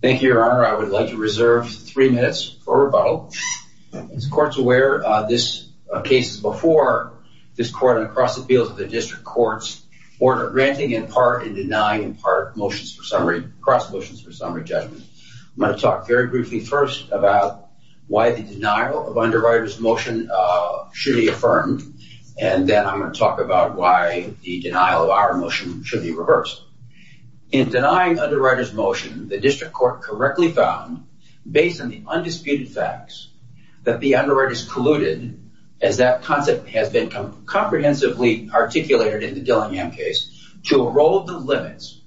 Thank you, Your Honor. I would like to reserve three minutes for rebuttal. As the Court's aware, this case is before this Court and across the fields of the District Court's order granting in part and denying in part motions for summary, cross motions for summary judgment. I'm going to talk very briefly first about why the denial of underwriter's motion should be affirmed, and then I'm going to talk about why the denial of our motion should be affirmed. The District Court correctly found, based on the undisputed facts, that the underwriter's colluded, as that concept has been comprehensively articulated in the Dillingham case, to erode the limits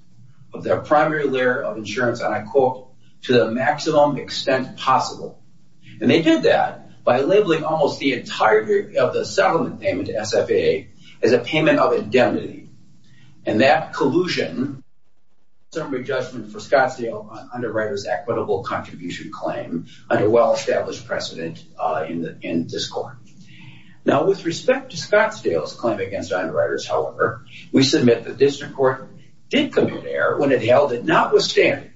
of their primary layer of insurance, and I quote, to the maximum extent possible. And they did that by labeling almost the entirety of the settlement payment to SFA as a payment of indemnity. And that collusion, summary judgment for Scottsdale underwriter's equitable contribution claim under well-established precedent in this Court. Now, with respect to Scottsdale's claim against underwriters, however, we submit the District Court did commit error when it held that notwithstanding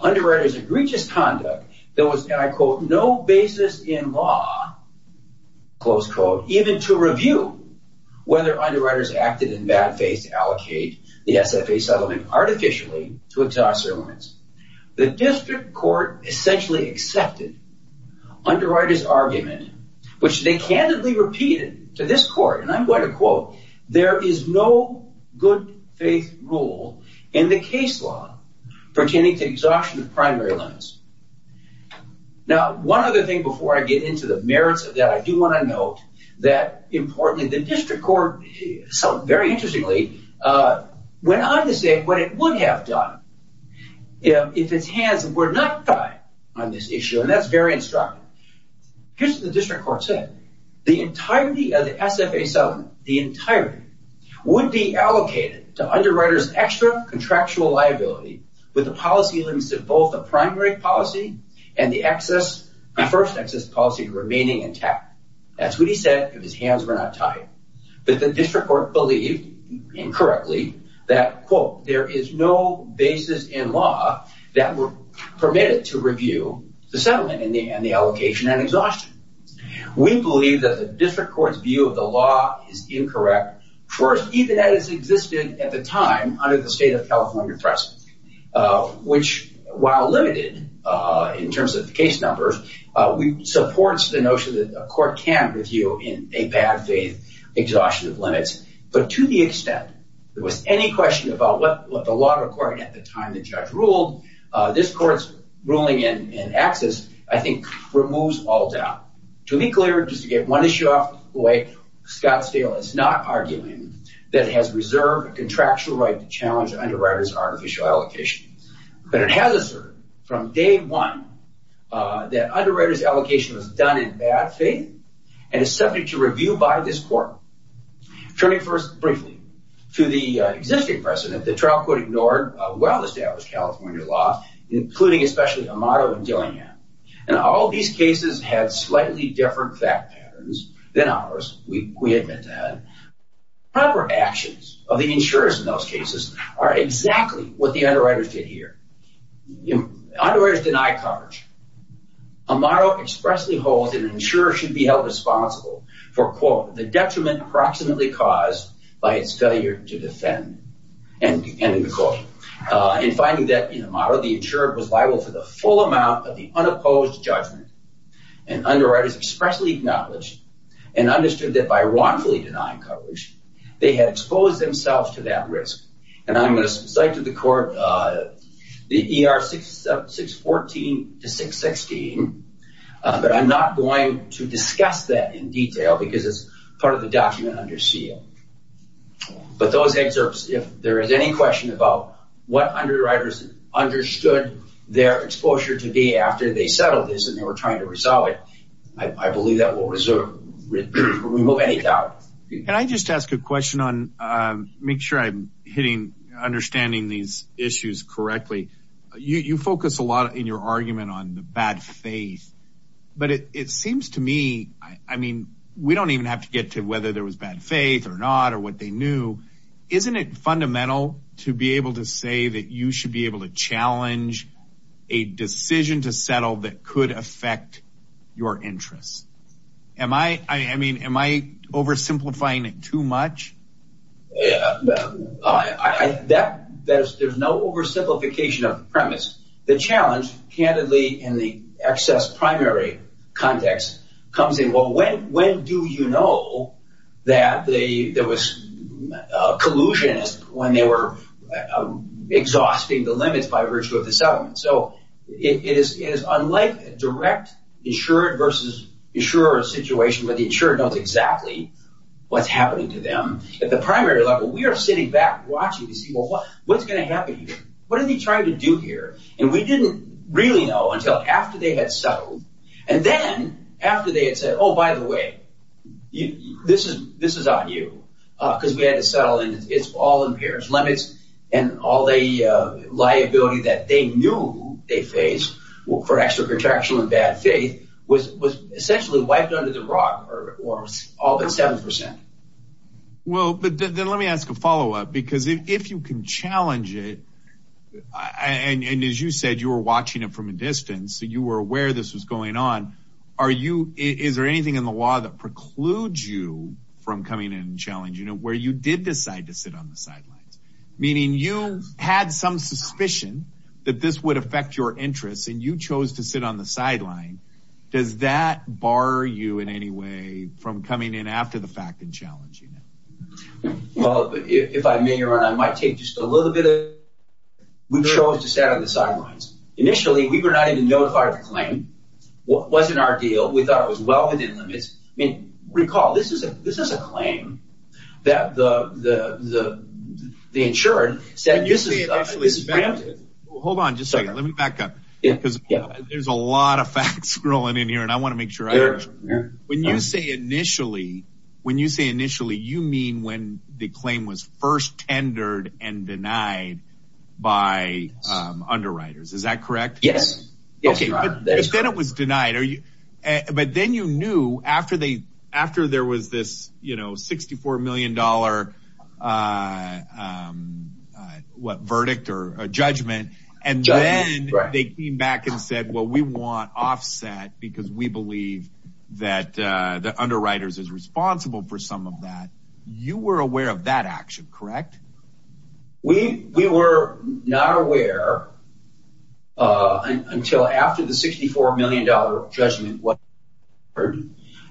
underwriters' egregious conduct, there was, and I quote, no basis in law, close quote, even to review whether underwriters acted in bad faith to allocate the SFA settlement artificially to exhaust their limits. The District Court essentially accepted underwriters' argument, which they candidly repeated to this Court, and I'm going to quote, there is no good faith rule in the case law pertaining to exhaustion of primary limits. Now, one other thing before I get into the merits of that, I do want to note that, importantly, the District Court, very interestingly, went on to say what it would have done if its hands were not tied on this issue, and that's very instructive. Here's what the District Court said. The entirety of the SFA settlement, the entirety, would be allocated to underwriters' extra contractual liability with the policy limits of both the primary policy and the first access policy remaining intact. That's what he said if his hands were not tied, but the District Court believed, incorrectly, that, quote, there is no basis in law that were permitted to review the settlement and the allocation and exhaustion. We believe that the District Court's view of the law is incorrect, first, even as it existed at the time under the state of California press, which, while limited in terms of case numbers, supports the notion that a court can review in a bad faith exhaustion of limits, but to the extent there was any question about what the law required at the time the judge ruled, this Court's ruling in access, I think, removes all Scott's deal. It's not arguing that it has reserved a contractual right to challenge underwriters' artificial allocation, but it has asserted from day one that underwriters' allocation was done in bad faith and is subject to review by this Court. Turning first briefly to the existing precedent, the trial court ignored well-established California law, including especially Amato and Dillingham, and all these cases had slightly different fact patterns than ours. We admit that. Proper actions of the insurers in those cases are exactly what the underwriters did here. Underwriters denied coverage. Amato expressly holds that an insurer should be held responsible for, quote, the detriment approximately caused by its failure to defend, ending the quote. In finding that, in Amato, the insurer was liable for the full amount of the unopposed judgment, and underwriters expressly acknowledged and understood that by wrongfully denying coverage, they had exposed themselves to that risk. And I'm going to cite to the Court the ER 614 to 616, but I'm not going to discuss that in detail because it's part of the document under seal. But those excerpts, if there is any question about what underwriters understood their exposure to be after they settled this and they were trying to resolve it, I believe that will remove any doubt. Can I just ask a question on, make sure I'm hitting, understanding these issues correctly. You focus a lot in your argument on the bad faith, but it seems to me, I mean, we don't even have to get to whether there was bad faith or not or what they knew. Isn't it fundamental to be able to say that you should be able to challenge a decision to settle that could affect your interests? Am I, I mean, am I oversimplifying it too much? There's no oversimplification of the premise. The challenge, candidly, in the primary context comes in, well, when do you know that there was a collusion when they were exhausting the limits by virtue of the settlement? So it is unlike a direct insured versus insurer situation where the insurer knows exactly what's happening to them. At the primary level, we are sitting back watching to see, well, what's going to happen here? What are they trying to do here? And we didn't really know until after they had settled. And then after they had said, oh, by the way, this is, this is on you because we had to settle and it's all impaired limits and all the liability that they knew they faced for extra protection and bad faith was essentially wiped under the rug or all but 7%. Well, but then let me ask a follow up because if you can it, and as you said, you were watching it from a distance, you were aware this was going on. Are you, is there anything in the law that precludes you from coming in and challenging it where you did decide to sit on the sidelines, meaning you had some suspicion that this would affect your interests and you chose to sit on the sideline. Does that bar you in any way from coming in after the fact and challenging it? Well, if I may run, I might take just a little bit. We chose to set on the sidelines. Initially we were not even notified the claim. What was in our deal? We thought it was well within limits. I mean, recall, this is a, this is a claim that the, the, the, the insured said, hold on just a second. Let me back up because there's a lot of facts scrolling in here and I want to make sure when you say initially, when you say initially, you mean when the claim was first tendered and denied by underwriters, is that correct? Yes. Okay. But then it was denied. Are you, but then you knew after they, after there was this, you know, $64 million what verdict or judgment and then they came back and said, well, we want offset because we believe that, uh, the underwriters is responsible for some of that. You were aware of that action, correct? We, we were not aware, uh, until after the $64 million judgment, what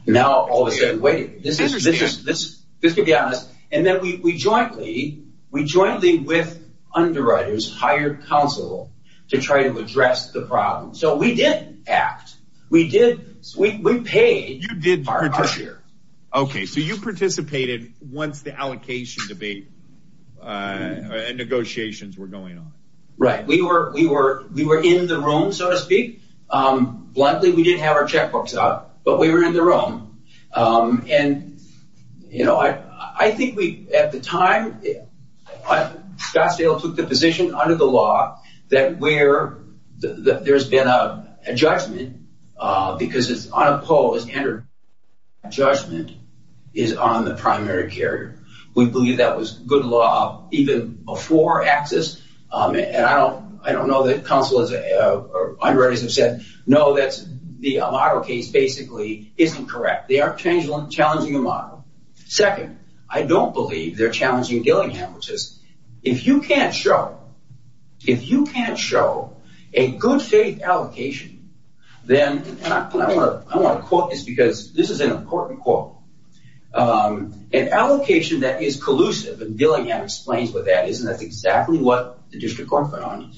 now all of a sudden, wait, this is, this is this, this could be honest. And then we jointly, we jointly with underwriters hired counsel to try to address the problem. So we did act, we did, we paid our share. Okay. So you participated once the allocation debate, uh, and negotiations were going on. Right. We were, we were, we were in the room, so to speak. Um, bluntly, we didn't have our checkbooks out, but we were in the room. Um, and you know, I, I think we, at the time Scottsdale took the position under the law that where there's been a judgment, uh, because it's unopposed and judgment is on the primary carrier. We believe that was good law, even before access. Um, and I don't, I don't know that counsel is, uh, or underwriters have said, no, that's the model case basically isn't correct. They aren't challenging the model. Second, I don't believe they're challenging Dillingham, which is if you can't show, if you can't show a good faith allocation, then I want to, I want to quote this because this is an important quote, um, an allocation that is collusive and Dillingham explains what that is. And that's exactly what the district court found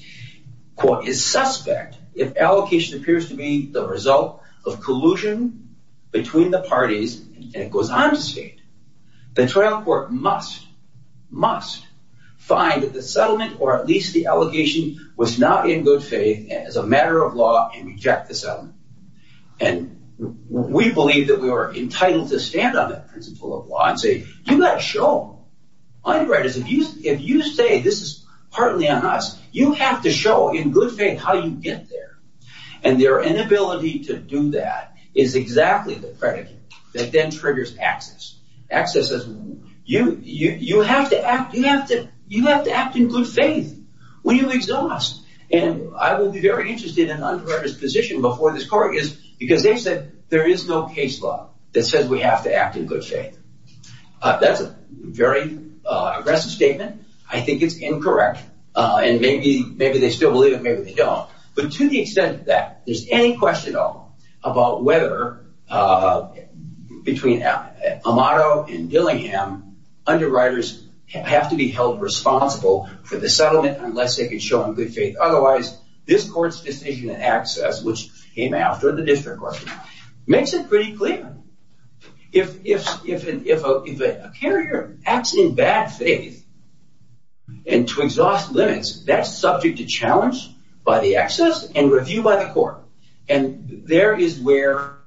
quote is suspect. If allocation appears to be the result of collusion between the parties and it goes on to state the trial court must, must find that the settlement, or at least the allegation was not in good faith as a matter of law and reject the settlement. And we believe that we were entitled to stand on that principle of law and say, do not show underwriters. If you, if you say this is partly on us, you have to show in good faith how you get there. And their inability to do that is exactly the you have to act, you have to, you have to act in good faith when you exhaust. And I will be very interested in underwriter's position before this court is because they've said there is no case law that says we have to act in good faith. That's a very aggressive statement. I think it's incorrect. And maybe, maybe they still believe it. Maybe they don't. But to the extent that there's any question at all about whether between Amato and Dillingham, underwriters have to be held responsible for the settlement unless they can show in good faith. Otherwise, this court's decision in access, which came after the district court, makes it pretty clear. If, if, if, if a, if a carrier acts in bad faith and to exhaust limits, that's subject to challenge by the access and review by the court. And there is where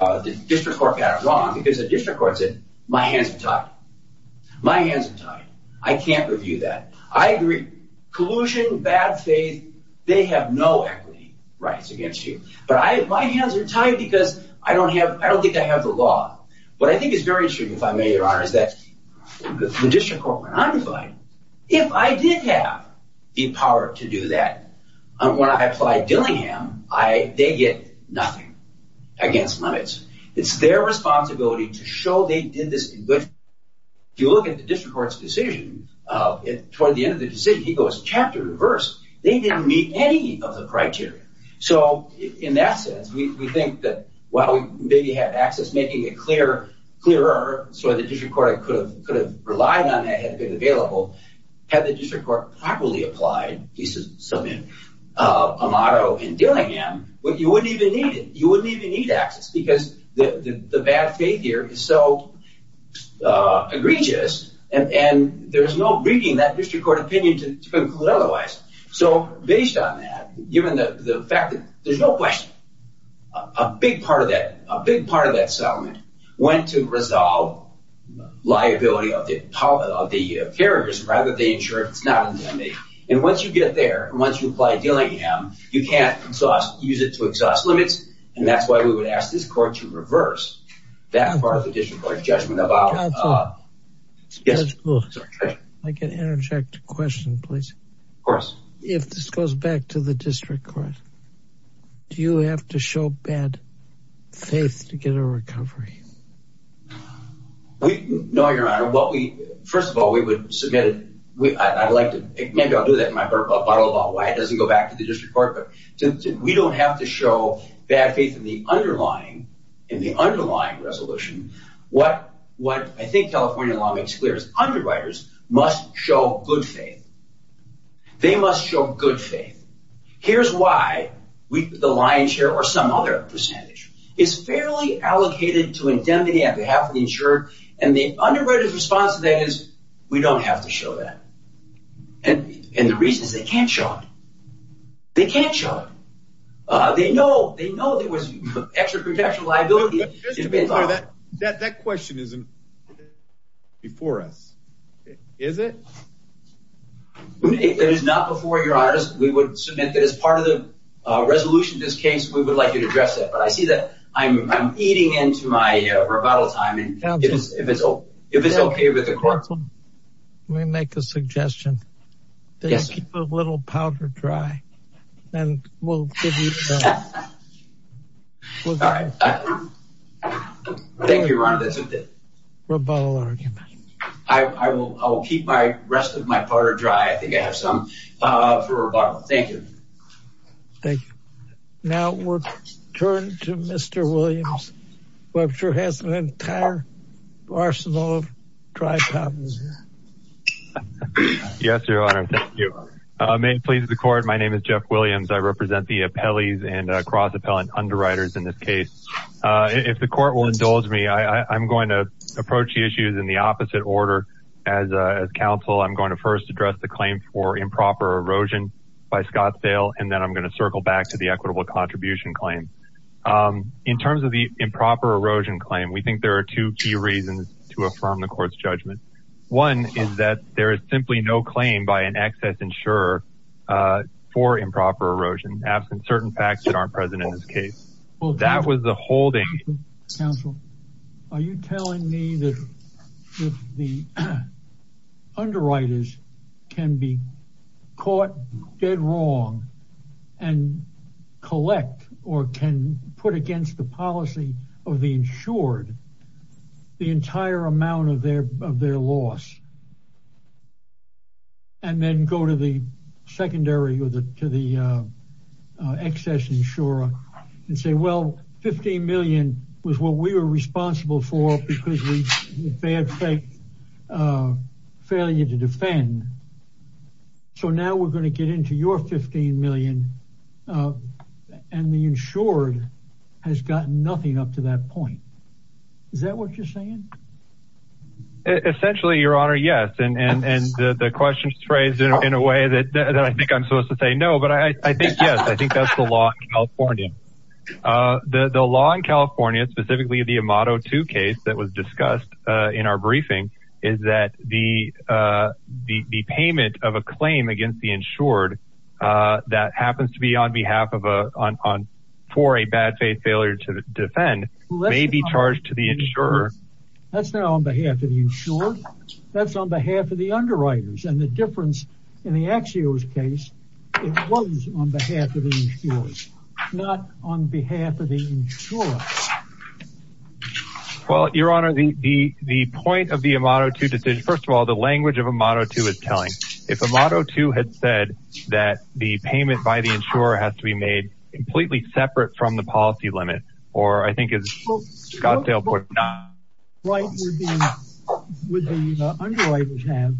the district court got it wrong because the district court said, my hands are tied. My hands are tied. I can't review that. I agree. Collusion, bad faith, they have no equity rights against you. But I, my hands are tied because I don't have, I don't think I have the law. What I think is very interesting, if I may, your honor, is that the district court went undefined. If I did have the power to do that, when I applied Dillingham, I, they get nothing against limits. It's their responsibility to show they did this in good faith. If you look at the district court's decision, toward the end of the decision, he goes chapter reverse. They didn't meet any of the criteria. So in that sense, we think that while we maybe had access making it clearer so the district court could have relied on that had it been available, had the district court properly applied, he submitted a motto in Dillingham, you wouldn't even need it. You wouldn't even need access because the bad faith here is so egregious and there's no reading that district court opinion to conclude otherwise. So based on that, given the fact that there's no question, a big part of that, a big part of that settlement went to resolve liability of the carriers rather than insure it's not a limit. And once you get there, once you apply Dillingham, you can't exhaust, use it to exhaust limits. And that's why we would ask this court to reverse that part of the district court judgment about. Yes. I can interject a question, please. Of course. If this goes back to the district court, do you have to show bad faith to get a recovery? We know your honor, what we, first of all, we would submit it. I'd like to, maybe I'll do that in my bottle of wine. It doesn't go back to the district court, but we don't have to show bad faith in the underlying, in the underlying resolution. What I think California law makes clear is underwriters must show good faith. They must show good faith. Here's why the lion's share or some other percentage is fairly allocated to indemnity on behalf of the insurer. And the underwriter's response to that is we don't have to show that. And the reason is they can't show it. They can't show it. They know, they know there was extra protection liability. That question isn't before us, is it? If it is not before your honor, we would submit that as part of the resolution, this case, we would like you to address it. But I see that I'm eating into my rebuttal time and if it's, if it's, if it's okay with the court. Let me make a suggestion. They keep a little powder dry and we'll give you. Thank you, your honor. That's a good rebuttal argument. I will, I will keep my rest of my powder dry. I think I have some for rebuttal. Thank you. Thank you. Now we'll turn to Mr. Williams, who I'm sure has an entire arsenal of dry cotton. Yes, your honor. Thank you. May it please the court. My name is Jeff Williams. I represent the appellees and cross-appellant underwriters in this case. If the court will indulge me, I'm going to approach the issues in the opposite order. As a counsel, I'm going to first address the claim for improper erosion by Scottsdale. And then I'm going to circle back to the equitable contribution claim. In terms of the improper erosion claim, we think there are two key reasons to affirm the court's judgment. One is that there is simply no claim by an excess insurer for improper erosion, absent certain facts that aren't present in this case. Well, that was the holding counsel. Are you telling me that the underwriters can be dead wrong and collect or can put against the policy of the insured the entire amount of their loss and then go to the secondary or to the excess insurer and say, well, $15 million was what we were responsible for because we failed to defend. So now we're going to get into your $15 million and the insured has gotten nothing up to that point. Is that what you're saying? Essentially, your honor, yes. And the question is phrased in a way that I think I'm supposed to say no, but I think, yes, I think that's the law in California. The law in California, specifically the Amado 2 case that was discussed in our briefing, is that the payment of a claim against the insured that happens to be on behalf of a, for a bad faith failure to defend may be charged to the insurer. That's not on behalf of the insured. That's on behalf of the underwriters. The difference in the Axios case, it was on behalf of the insured, not on behalf of the insurer. Well, your honor, the point of the Amado 2 decision, first of all, the language of Amado 2 is telling. If Amado 2 had said that the payment by the insurer has to be made completely separate from the policy limit, or I think it's Scottsdale. Would the underwriters have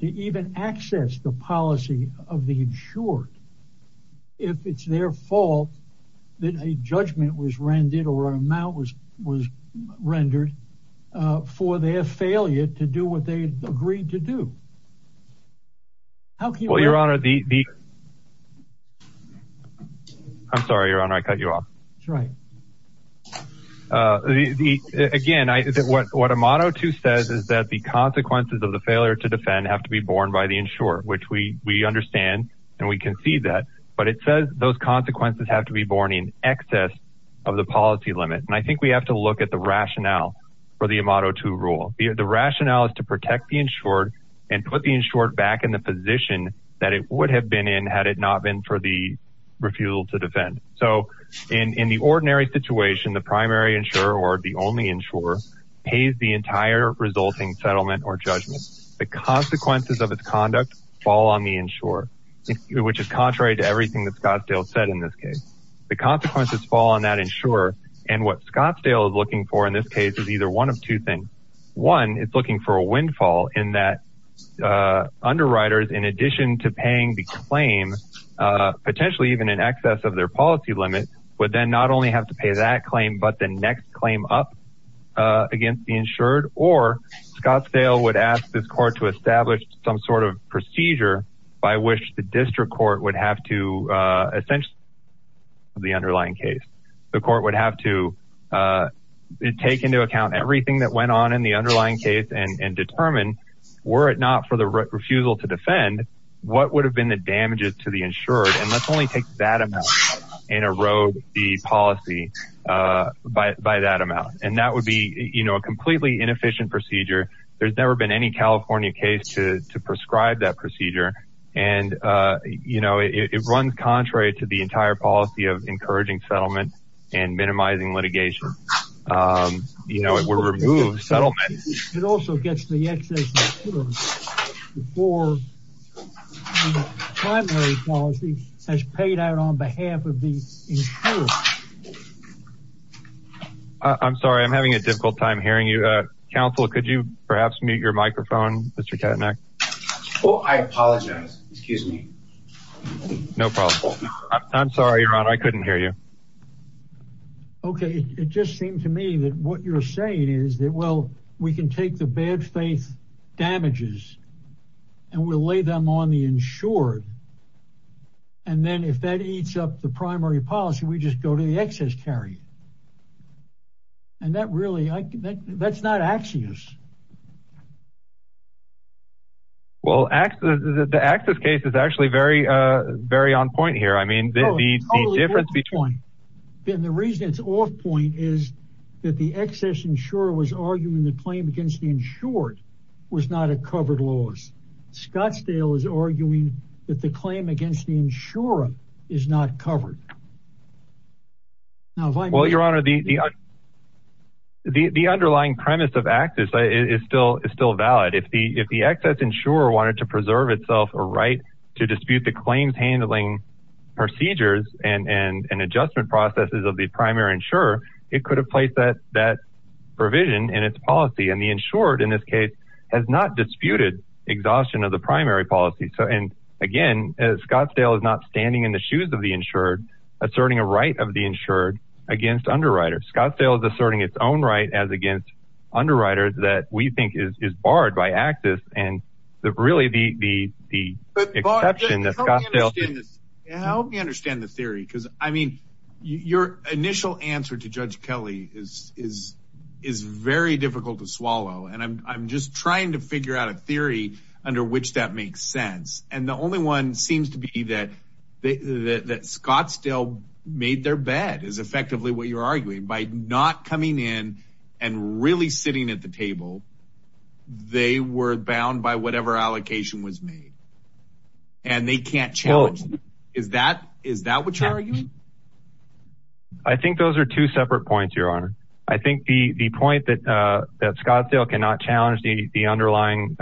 to even access the policy of the insured if it's their fault that a judgment was rendered or an amount was rendered for their failure to do what they agreed to do? Well, your honor, the, I'm sorry, your honor, I cut you off. Again, what Amado 2 says is that the consequences of the failure to defend have to be borne by the insurer, which we understand and we can see that, but it says those consequences have to be borne in excess of the policy limit. And I think we have to look at the rationale for the Amado 2 rule. The rationale is to protect the insured and put the insured back in the position that it would have been in had it not been for the refusal to defend. So in the ordinary situation, the primary insurer or the only insurer pays the entire resulting settlement or judgment. The consequences of its conduct fall on the insurer, which is contrary to everything that Scottsdale said in this case. The consequences fall on that insurer and what Scottsdale is looking for in this case is either one of two things. One, it's looking for a windfall in that underwriters, in addition to paying the claim, potentially even in excess of their policy limit, would then not only have to pay that claim, but the next claim up against the insured, or Scottsdale would ask this court to establish some sort of procedure by which the district court would have to essentially the underlying case. The court would have to take into account everything that went on in the underlying case and determine, were it not for the refusal to defend, what would have been the damages to the insured? And let's only take that amount and erode the policy by that amount. And that would be a completely inefficient procedure. There's never been any California case to prescribe that procedure. And, you know, it runs contrary to the entire policy of encouraging settlement and minimizing litigation. You know, it would remove settlement. It also gets the excess before the primary policy has paid out on behalf of the insured. I'm sorry, I'm having a difficult time hearing you. Council, could you perhaps mute your microphone, Mr. Keteneck? Oh, I apologize. Excuse me. No problem. I'm sorry, Ron, I couldn't hear you. Okay. It just seemed to me that what you're saying is that, well, we can take the bad faith damages and we'll lay them on the insured. And then if that eats up the primary policy, we just go to the excess carry. And that really, that's not Axios. Well, the Axios case is actually very on point here. I mean, the difference between then the reason it's off point is that the excess insurer was arguing the claim against the insured was not a covered loss. Scottsdale is arguing that the claim against the insurer is not covered. Well, your honor, the underlying premise of Axios is still valid. If the excess insurer wanted to preserve itself a right to dispute the claims handling procedures and an adjustment processes of the primary insurer, it could have placed that provision in its policy. And the insured in this case has not disputed exhaustion of the primary policy. So, and again, Scottsdale is not standing in the shoes of the insured, asserting a right of the insured against underwriters. Scottsdale is asserting its own right as against underwriters that we think is barred by Axios. And really the exception that Scottsdale- Help me understand the theory, because I mean, your initial answer to Judge Kelly is very difficult to swallow. And I'm just trying to figure out a theory under which that makes sense. And the only one seems to be that Scottsdale made their bet is effectively what you're arguing by not coming in and really sitting at the table. They were bound by whatever allocation was made and they can't challenge. Is that, is that what you're arguing? I think those are two separate points, Your Honor. I think the point that Scottsdale cannot challenge the underlying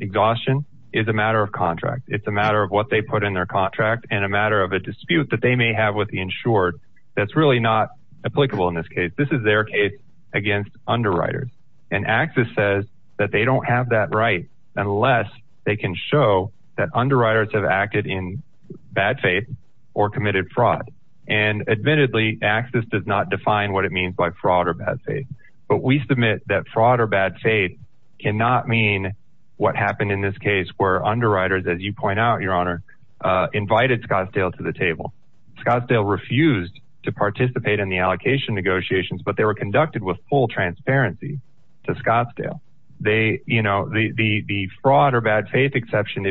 exhaustion is a matter of contract. It's a matter of what they put in their contract and a matter of a dispute that they may have with the insured. That's really not applicable in this case. This is their case against underwriters. And Axios says that they don't have that right unless they can show that underwriters have acted in bad faith or committed fraud. And admittedly, Axios does not define what it means by fraud or bad faith. But we submit that fraud or bad faith cannot mean what happened in this case where underwriters, as you point out, Your Honor, invited Scottsdale to the table. Scottsdale refused to participate in the allocation negotiations, but they were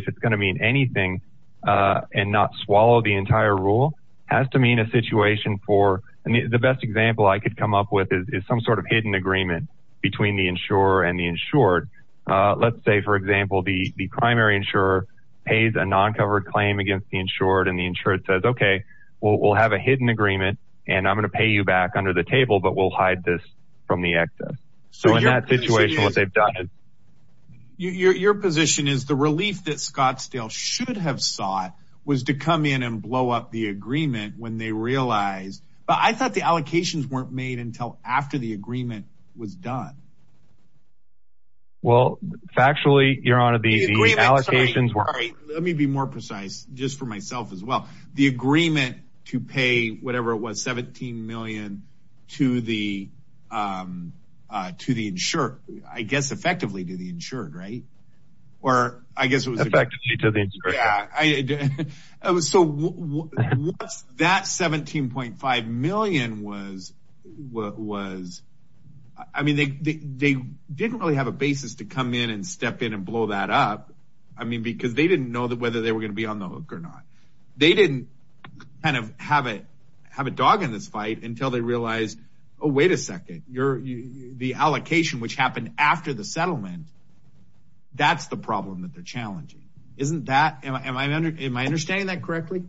if it's going to mean anything and not swallow the entire rule has to mean a situation for, I mean, the best example I could come up with is some sort of hidden agreement between the insurer and the insured. Let's say, for example, the primary insurer pays a non-covered claim against the insured and the insured says, okay, we'll have a hidden agreement and I'm going to pay you back under the table, but we'll hide this from the excess. So in that situation, what they've done. Your position is the relief that Scottsdale should have sought was to come in and blow up the agreement when they realized, but I thought the allocations weren't made until after the agreement was done. Well, factually, Your Honor, the allocations were. Let me be more precise just for myself as well. The agreement to pay whatever it was, $17 million to the insured, I guess, effectively to the insured, right? Or I guess it was effectively to the insured. So that $17.5 million was, I mean, they didn't really have a basis to come in and step in and blow that up. I mean, because they didn't know that whether they were going to be on the hook or not, they didn't kind of have a, have a dog in this fight until they realized, oh, wait a second. You're the allocation, which happened after the settlement. That's the problem that they're challenging. Isn't that, am I, am I under, am I understanding that correctly?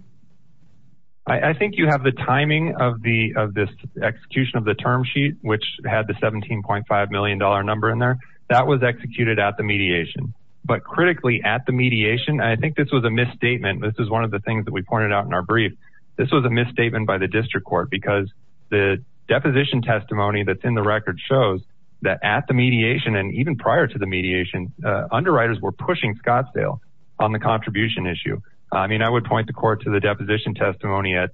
I think you have the timing of the, of this execution of the term sheet, which had the $17.5 million number in there that was executed at the mediation, but critically at mediation, I think this was a misstatement. This is one of the things that we pointed out in our brief. This was a misstatement by the district court because the deposition testimony that's in the record shows that at the mediation and even prior to the mediation, underwriters were pushing Scottsdale on the contribution issue. I mean, I would point the court to the deposition testimony at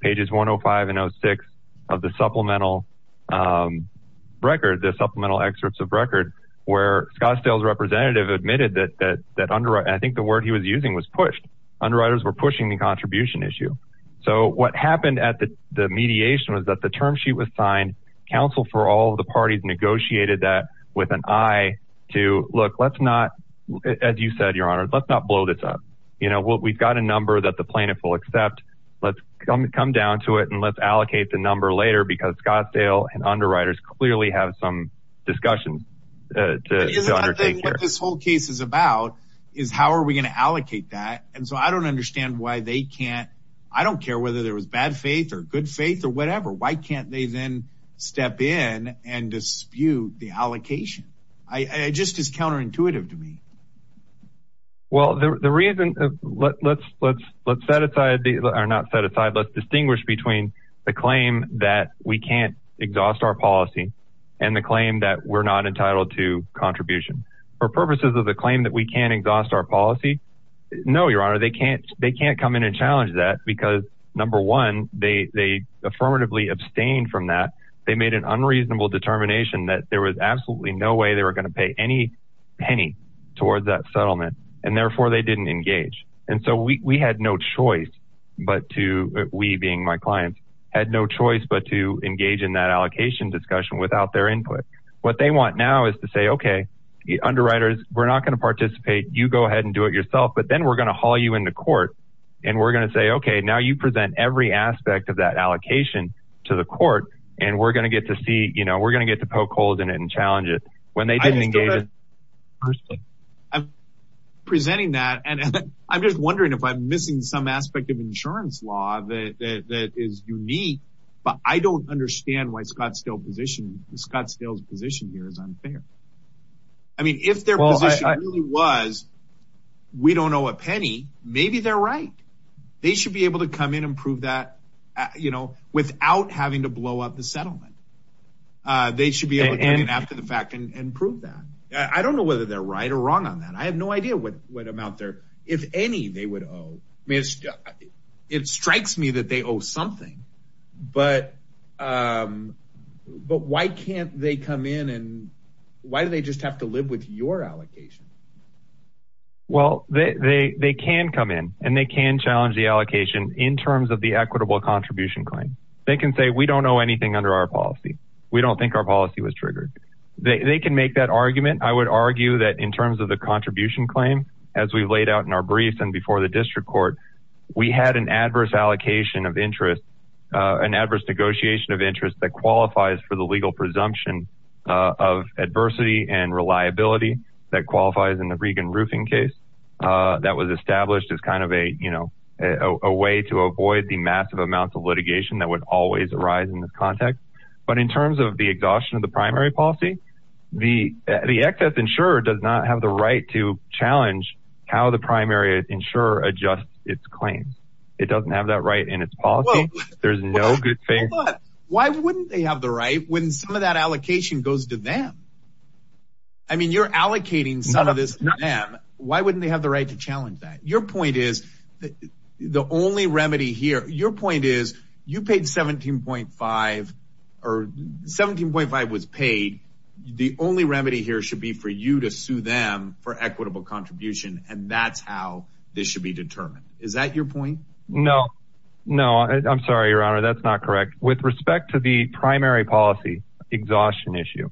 pages 105 and 06 of the supplemental record, the supplemental excerpts of record where Scottsdale's representative admitted that, that, that under, I think the word he was using was pushed. Underwriters were pushing the contribution issue. So what happened at the, the mediation was that the term sheet was signed. Counsel for all of the parties negotiated that with an eye to look, let's not, as you said, your honor, let's not blow this up. You know, we've got a number that the plaintiff will accept. Let's come, come down to it and let's allocate the number later because Scottsdale and underwriters clearly have some discussions. What this whole case is about is how are we going to allocate that? And so I don't understand why they can't, I don't care whether there was bad faith or good faith or whatever. Why can't they then step in and dispute the allocation? I just, it's counterintuitive to me. Well, the, the reason let, let's, let's, let's set aside the, or not set aside, let's distinguish between the claim that we can't exhaust our policy and the claim that we're not entitled to contribution for purposes of the claim that we can't exhaust our policy. No, your honor, they can't, they can't come in and challenge that because number one, they, they affirmatively abstained from that. They made an unreasonable determination that there was settlement and therefore they didn't engage. And so we, we had no choice, but to, we being my clients had no choice, but to engage in that allocation discussion without their input. What they want now is to say, okay, the underwriters, we're not going to participate. You go ahead and do it yourself, but then we're going to haul you into court and we're going to say, okay, now you present every aspect of that allocation to the court and we're going to get to see, you know, we're going to get to poke holes in it and challenge it when they didn't engage. Personally, I'm presenting that. And I'm just wondering if I'm missing some aspect of insurance law that, that, that is unique, but I don't understand why Scottsdale position Scottsdale's position here is unfair. I mean, if their position really was, we don't know a penny, maybe they're right. They should be able to come in and prove that, you know, without having to I don't know whether they're right or wrong on that. I have no idea what amount there, if any, they would owe. I mean, it strikes me that they owe something, but, but why can't they come in and why do they just have to live with your allocation? Well, they, they, they can come in and they can challenge the allocation in terms of the equitable contribution claim. They can say, we don't know anything under our policy. We don't make that argument. I would argue that in terms of the contribution claim, as we laid out in our briefs and before the district court, we had an adverse allocation of interest, an adverse negotiation of interest that qualifies for the legal presumption of adversity and reliability that qualifies in the Regan roofing case that was established as kind of a, you know, a way to avoid the massive amounts of litigation that would always arise in this context. But in terms of exhaustion of the primary policy, the excess insurer does not have the right to challenge how the primary insurer adjusts its claims. It doesn't have that right in its policy. There's no good faith. Why wouldn't they have the right when some of that allocation goes to them? I mean, you're allocating some of this to them. Why wouldn't they have the right to challenge that? Your point is that the only remedy here, your point is you paid 17.5 or 17.5 was paid. The only remedy here should be for you to sue them for equitable contribution. And that's how this should be determined. Is that your point? No, no, I'm sorry, your honor. That's not correct. With respect to the primary policy exhaustion issue,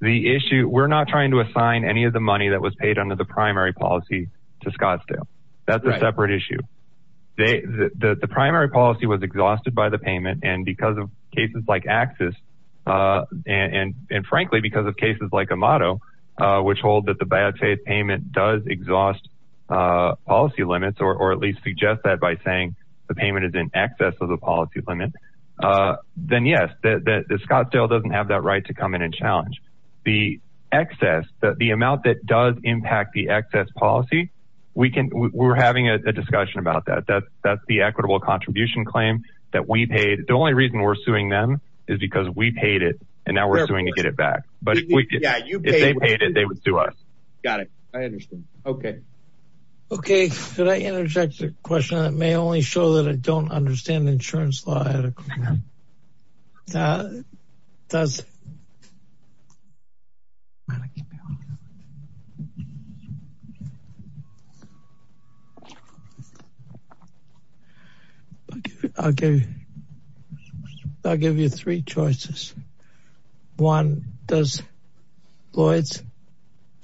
the issue we're not trying to assign any of the money that was paid under the primary policy to Scottsdale. That's a separate issue. The primary policy was exhausted by the payment. And because of cases like Axis, and frankly, because of cases like Amato, which hold that the bad faith payment does exhaust policy limits, or at least suggest that by saying the payment is in excess of the policy limit, then yes, Scottsdale doesn't have that right to come in and challenge. The excess, the amount that does impact the excess policy, we're having a discussion about that. That's the equitable contribution claim that we paid. The only reason we're suing them is because we paid it and now we're suing to get it back. But if they paid it, they would sue us. Got it. I understand. Okay. Okay. Could I interject a question that may only show that I don't understand insurance law at a time? I'll give you three choices. One, does Lloyd's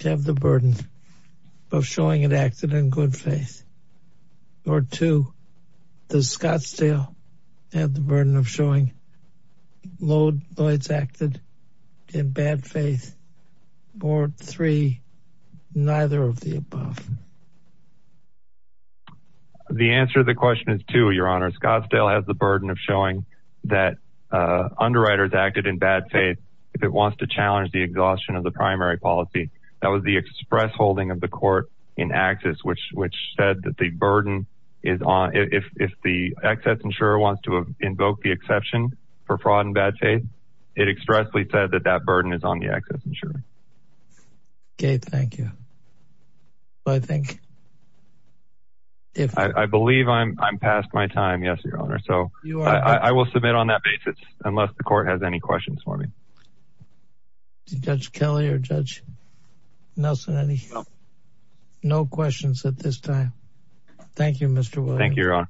have the burden of showing it acted in good faith? Or two, does Scottsdale have the burden of showing Lloyd's acted in bad faith? Or three, neither of the above? The answer to the question is two, Your Honor. Scottsdale has the burden of showing that underwriters acted in bad faith if it wants to challenge the exhaustion of the primary policy. That was the express holding of the court in Axis, which said that if the excess insurer wants to invoke the exception for fraud and bad faith, it expressly said that that burden is on the excess insurer. Okay. Thank you. I believe I'm past my time. Yes, Your Honor. So I will submit on that basis unless the court has any questions for me. Did Judge Kelley or Judge Nelson have any questions at this time? Thank you, Mr. Williams. Thank you, Your Honor.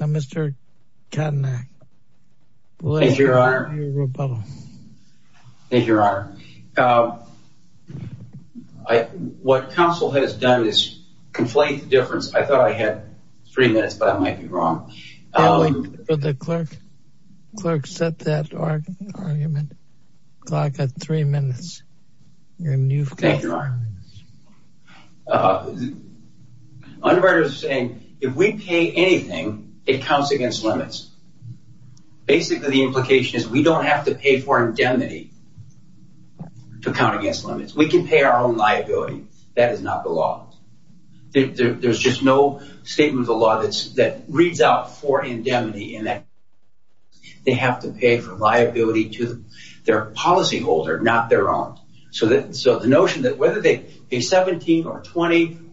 Mr. Katanak. Thank you, Your Honor. What counsel has done is conflate the difference. I thought I had three minutes, but I might be wrong. The clerk set that argument. I've got three minutes. Thank you, Your Honor. Underwriters are saying if we pay anything, it counts against limits. Basically, the implication is we don't have to pay for indemnity to count against limits. We can pay our own liability. That is not the law. There's just no statement of the law that reads out for indemnity in that they have to pay for liability to their policyholder, not their own. So the notion that whether they pay $17 or $20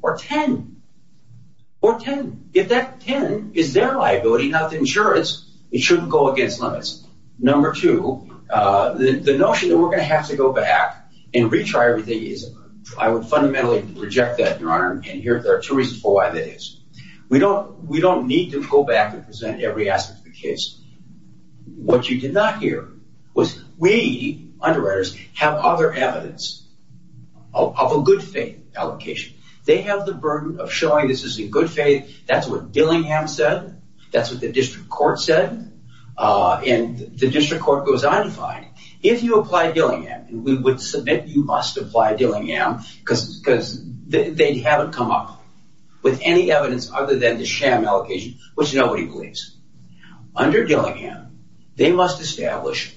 or $10, if that $10 is their liability, not the insurer's, it shouldn't go against limits. Number two, the notion that we're going to have to go back and retry everything, I would fundamentally reject that, Your Honor, and there are two reasons for why that is. We don't need to go back and present every aspect of the case. What you did not hear was we, underwriters, have other evidence of a good faith allocation. They have the burden of showing this is a good faith, that's what Dillingham said, that's what the district court said, and the district court goes undefined. If you apply Dillingham, and we would submit you must apply Dillingham because they haven't come up with any evidence other than the sham allocation, which nobody believes. Under Dillingham, they must establish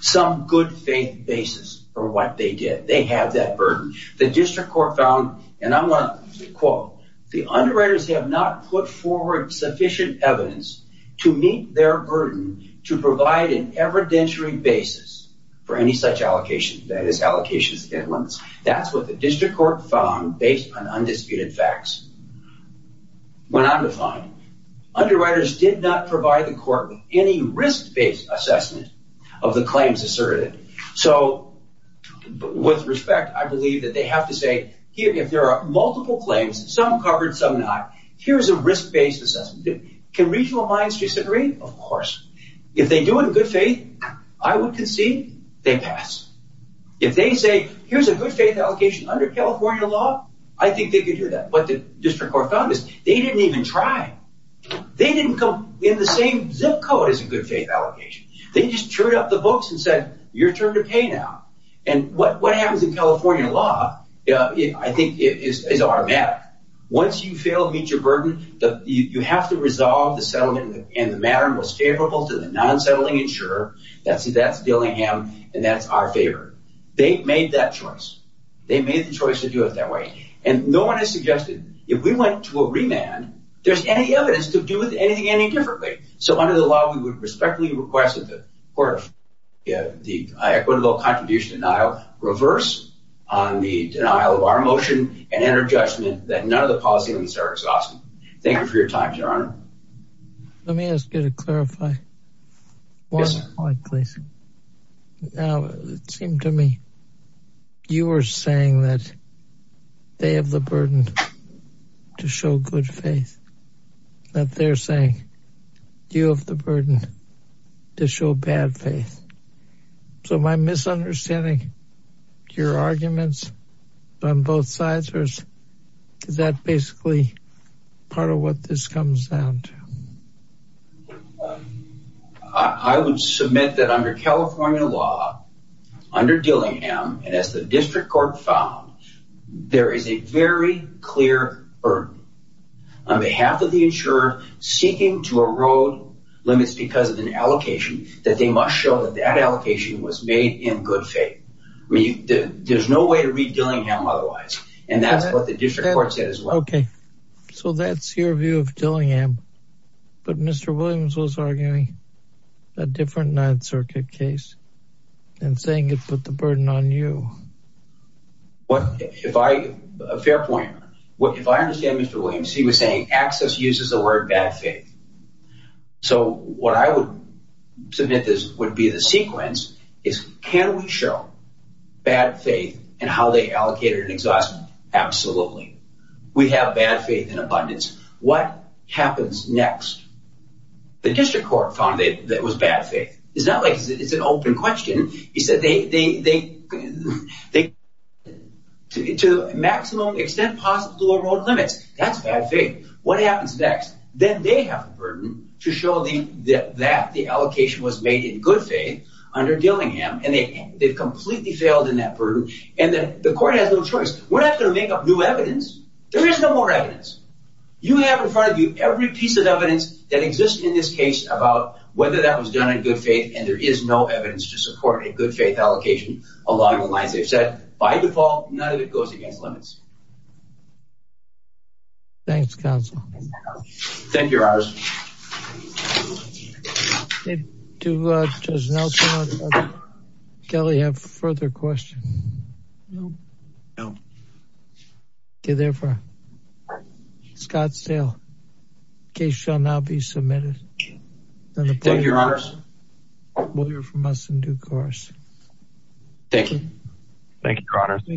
some good faith basis for what they did. They have that burden. The district court found, and I want to quote, the underwriters have not put forward sufficient evidence to meet their burden to provide an evidentiary basis for any such allocation, that is allocations and limits. That's what the district court found based on undisputed facts. When undefined, underwriters did not provide the court with any risk-based assessment of the claims asserted. With respect, I believe that they have to say, here, if there are multiple claims, some covered, some not, here's a risk-based assessment. Can regional minds disagree? Of course. If they do it in good faith, I would concede they pass. If they say, here's a good faith allocation under California law, I think they could do that. But the district court found this. They didn't even try. They didn't come in the same zip code as a good faith allocation. They just chewed up the books and said, your turn to pay now. And what happens in California law, I think, is automatic. Once you fail to meet your burden, you have to resolve the settlement, and the matter most favorable to the non-settling insurer. That's Dillingham, and that's our favor. They made that choice. They made the choice to do it that way. And no one has suggested, if we went to a remand, there's any evidence to do it any differently. So under the law, we would respectfully request that the equitable contribution denial reverse on the denial of our motion and enter judgment that none of the policy elements are exhausted. Thank you for your time, your honor. Let me ask you to clarify one point, please. Now, it seemed to me you were saying that they have the burden to show good faith, that they're saying you have the burden to show bad faith. So my misunderstanding, your arguments on both sides, or is that basically part of what this comes down to? I would submit that under California law, under Dillingham, and as the district court found, there is a very clear burden on behalf of the insurer seeking to erode limits because of an I mean, there's no way to read Dillingham otherwise. And that's what the district court said as well. Okay. So that's your view of Dillingham. But Mr. Williams was arguing a different Ninth Circuit case and saying it put the burden on you. What, if I, a fair point, if I understand Mr. Williams, he was saying access uses the word bad faith. So what I would submit this would be the sequence is can we show bad faith and how they allocate it and exhaust it? Absolutely. We have bad faith in abundance. What happens next? The district court found that it was bad faith. It's not like it's an open question. He said they, to the maximum extent possible erode limits. That's bad faith. What happens next? Then they have the burden to show that the allocation was made in good faith under Dillingham and they've completely failed in that burden. And then the court has no choice. We're not going to make up new evidence. There is no more evidence. You have in front of you every piece of evidence that exists in this case about whether that was done in good faith. And there is no evidence to support a good faith allocation along the lines they've said. By default, none of it goes against limits. Thanks, counsel. Thank you, your honors. Do Judge Nelson and Judge Kelly have further questions? No. Okay. Therefore, Scottsdale case shall now be submitted. Thank you, your honors. We'll hear from us in due course. Thank you. Thank you, your honors.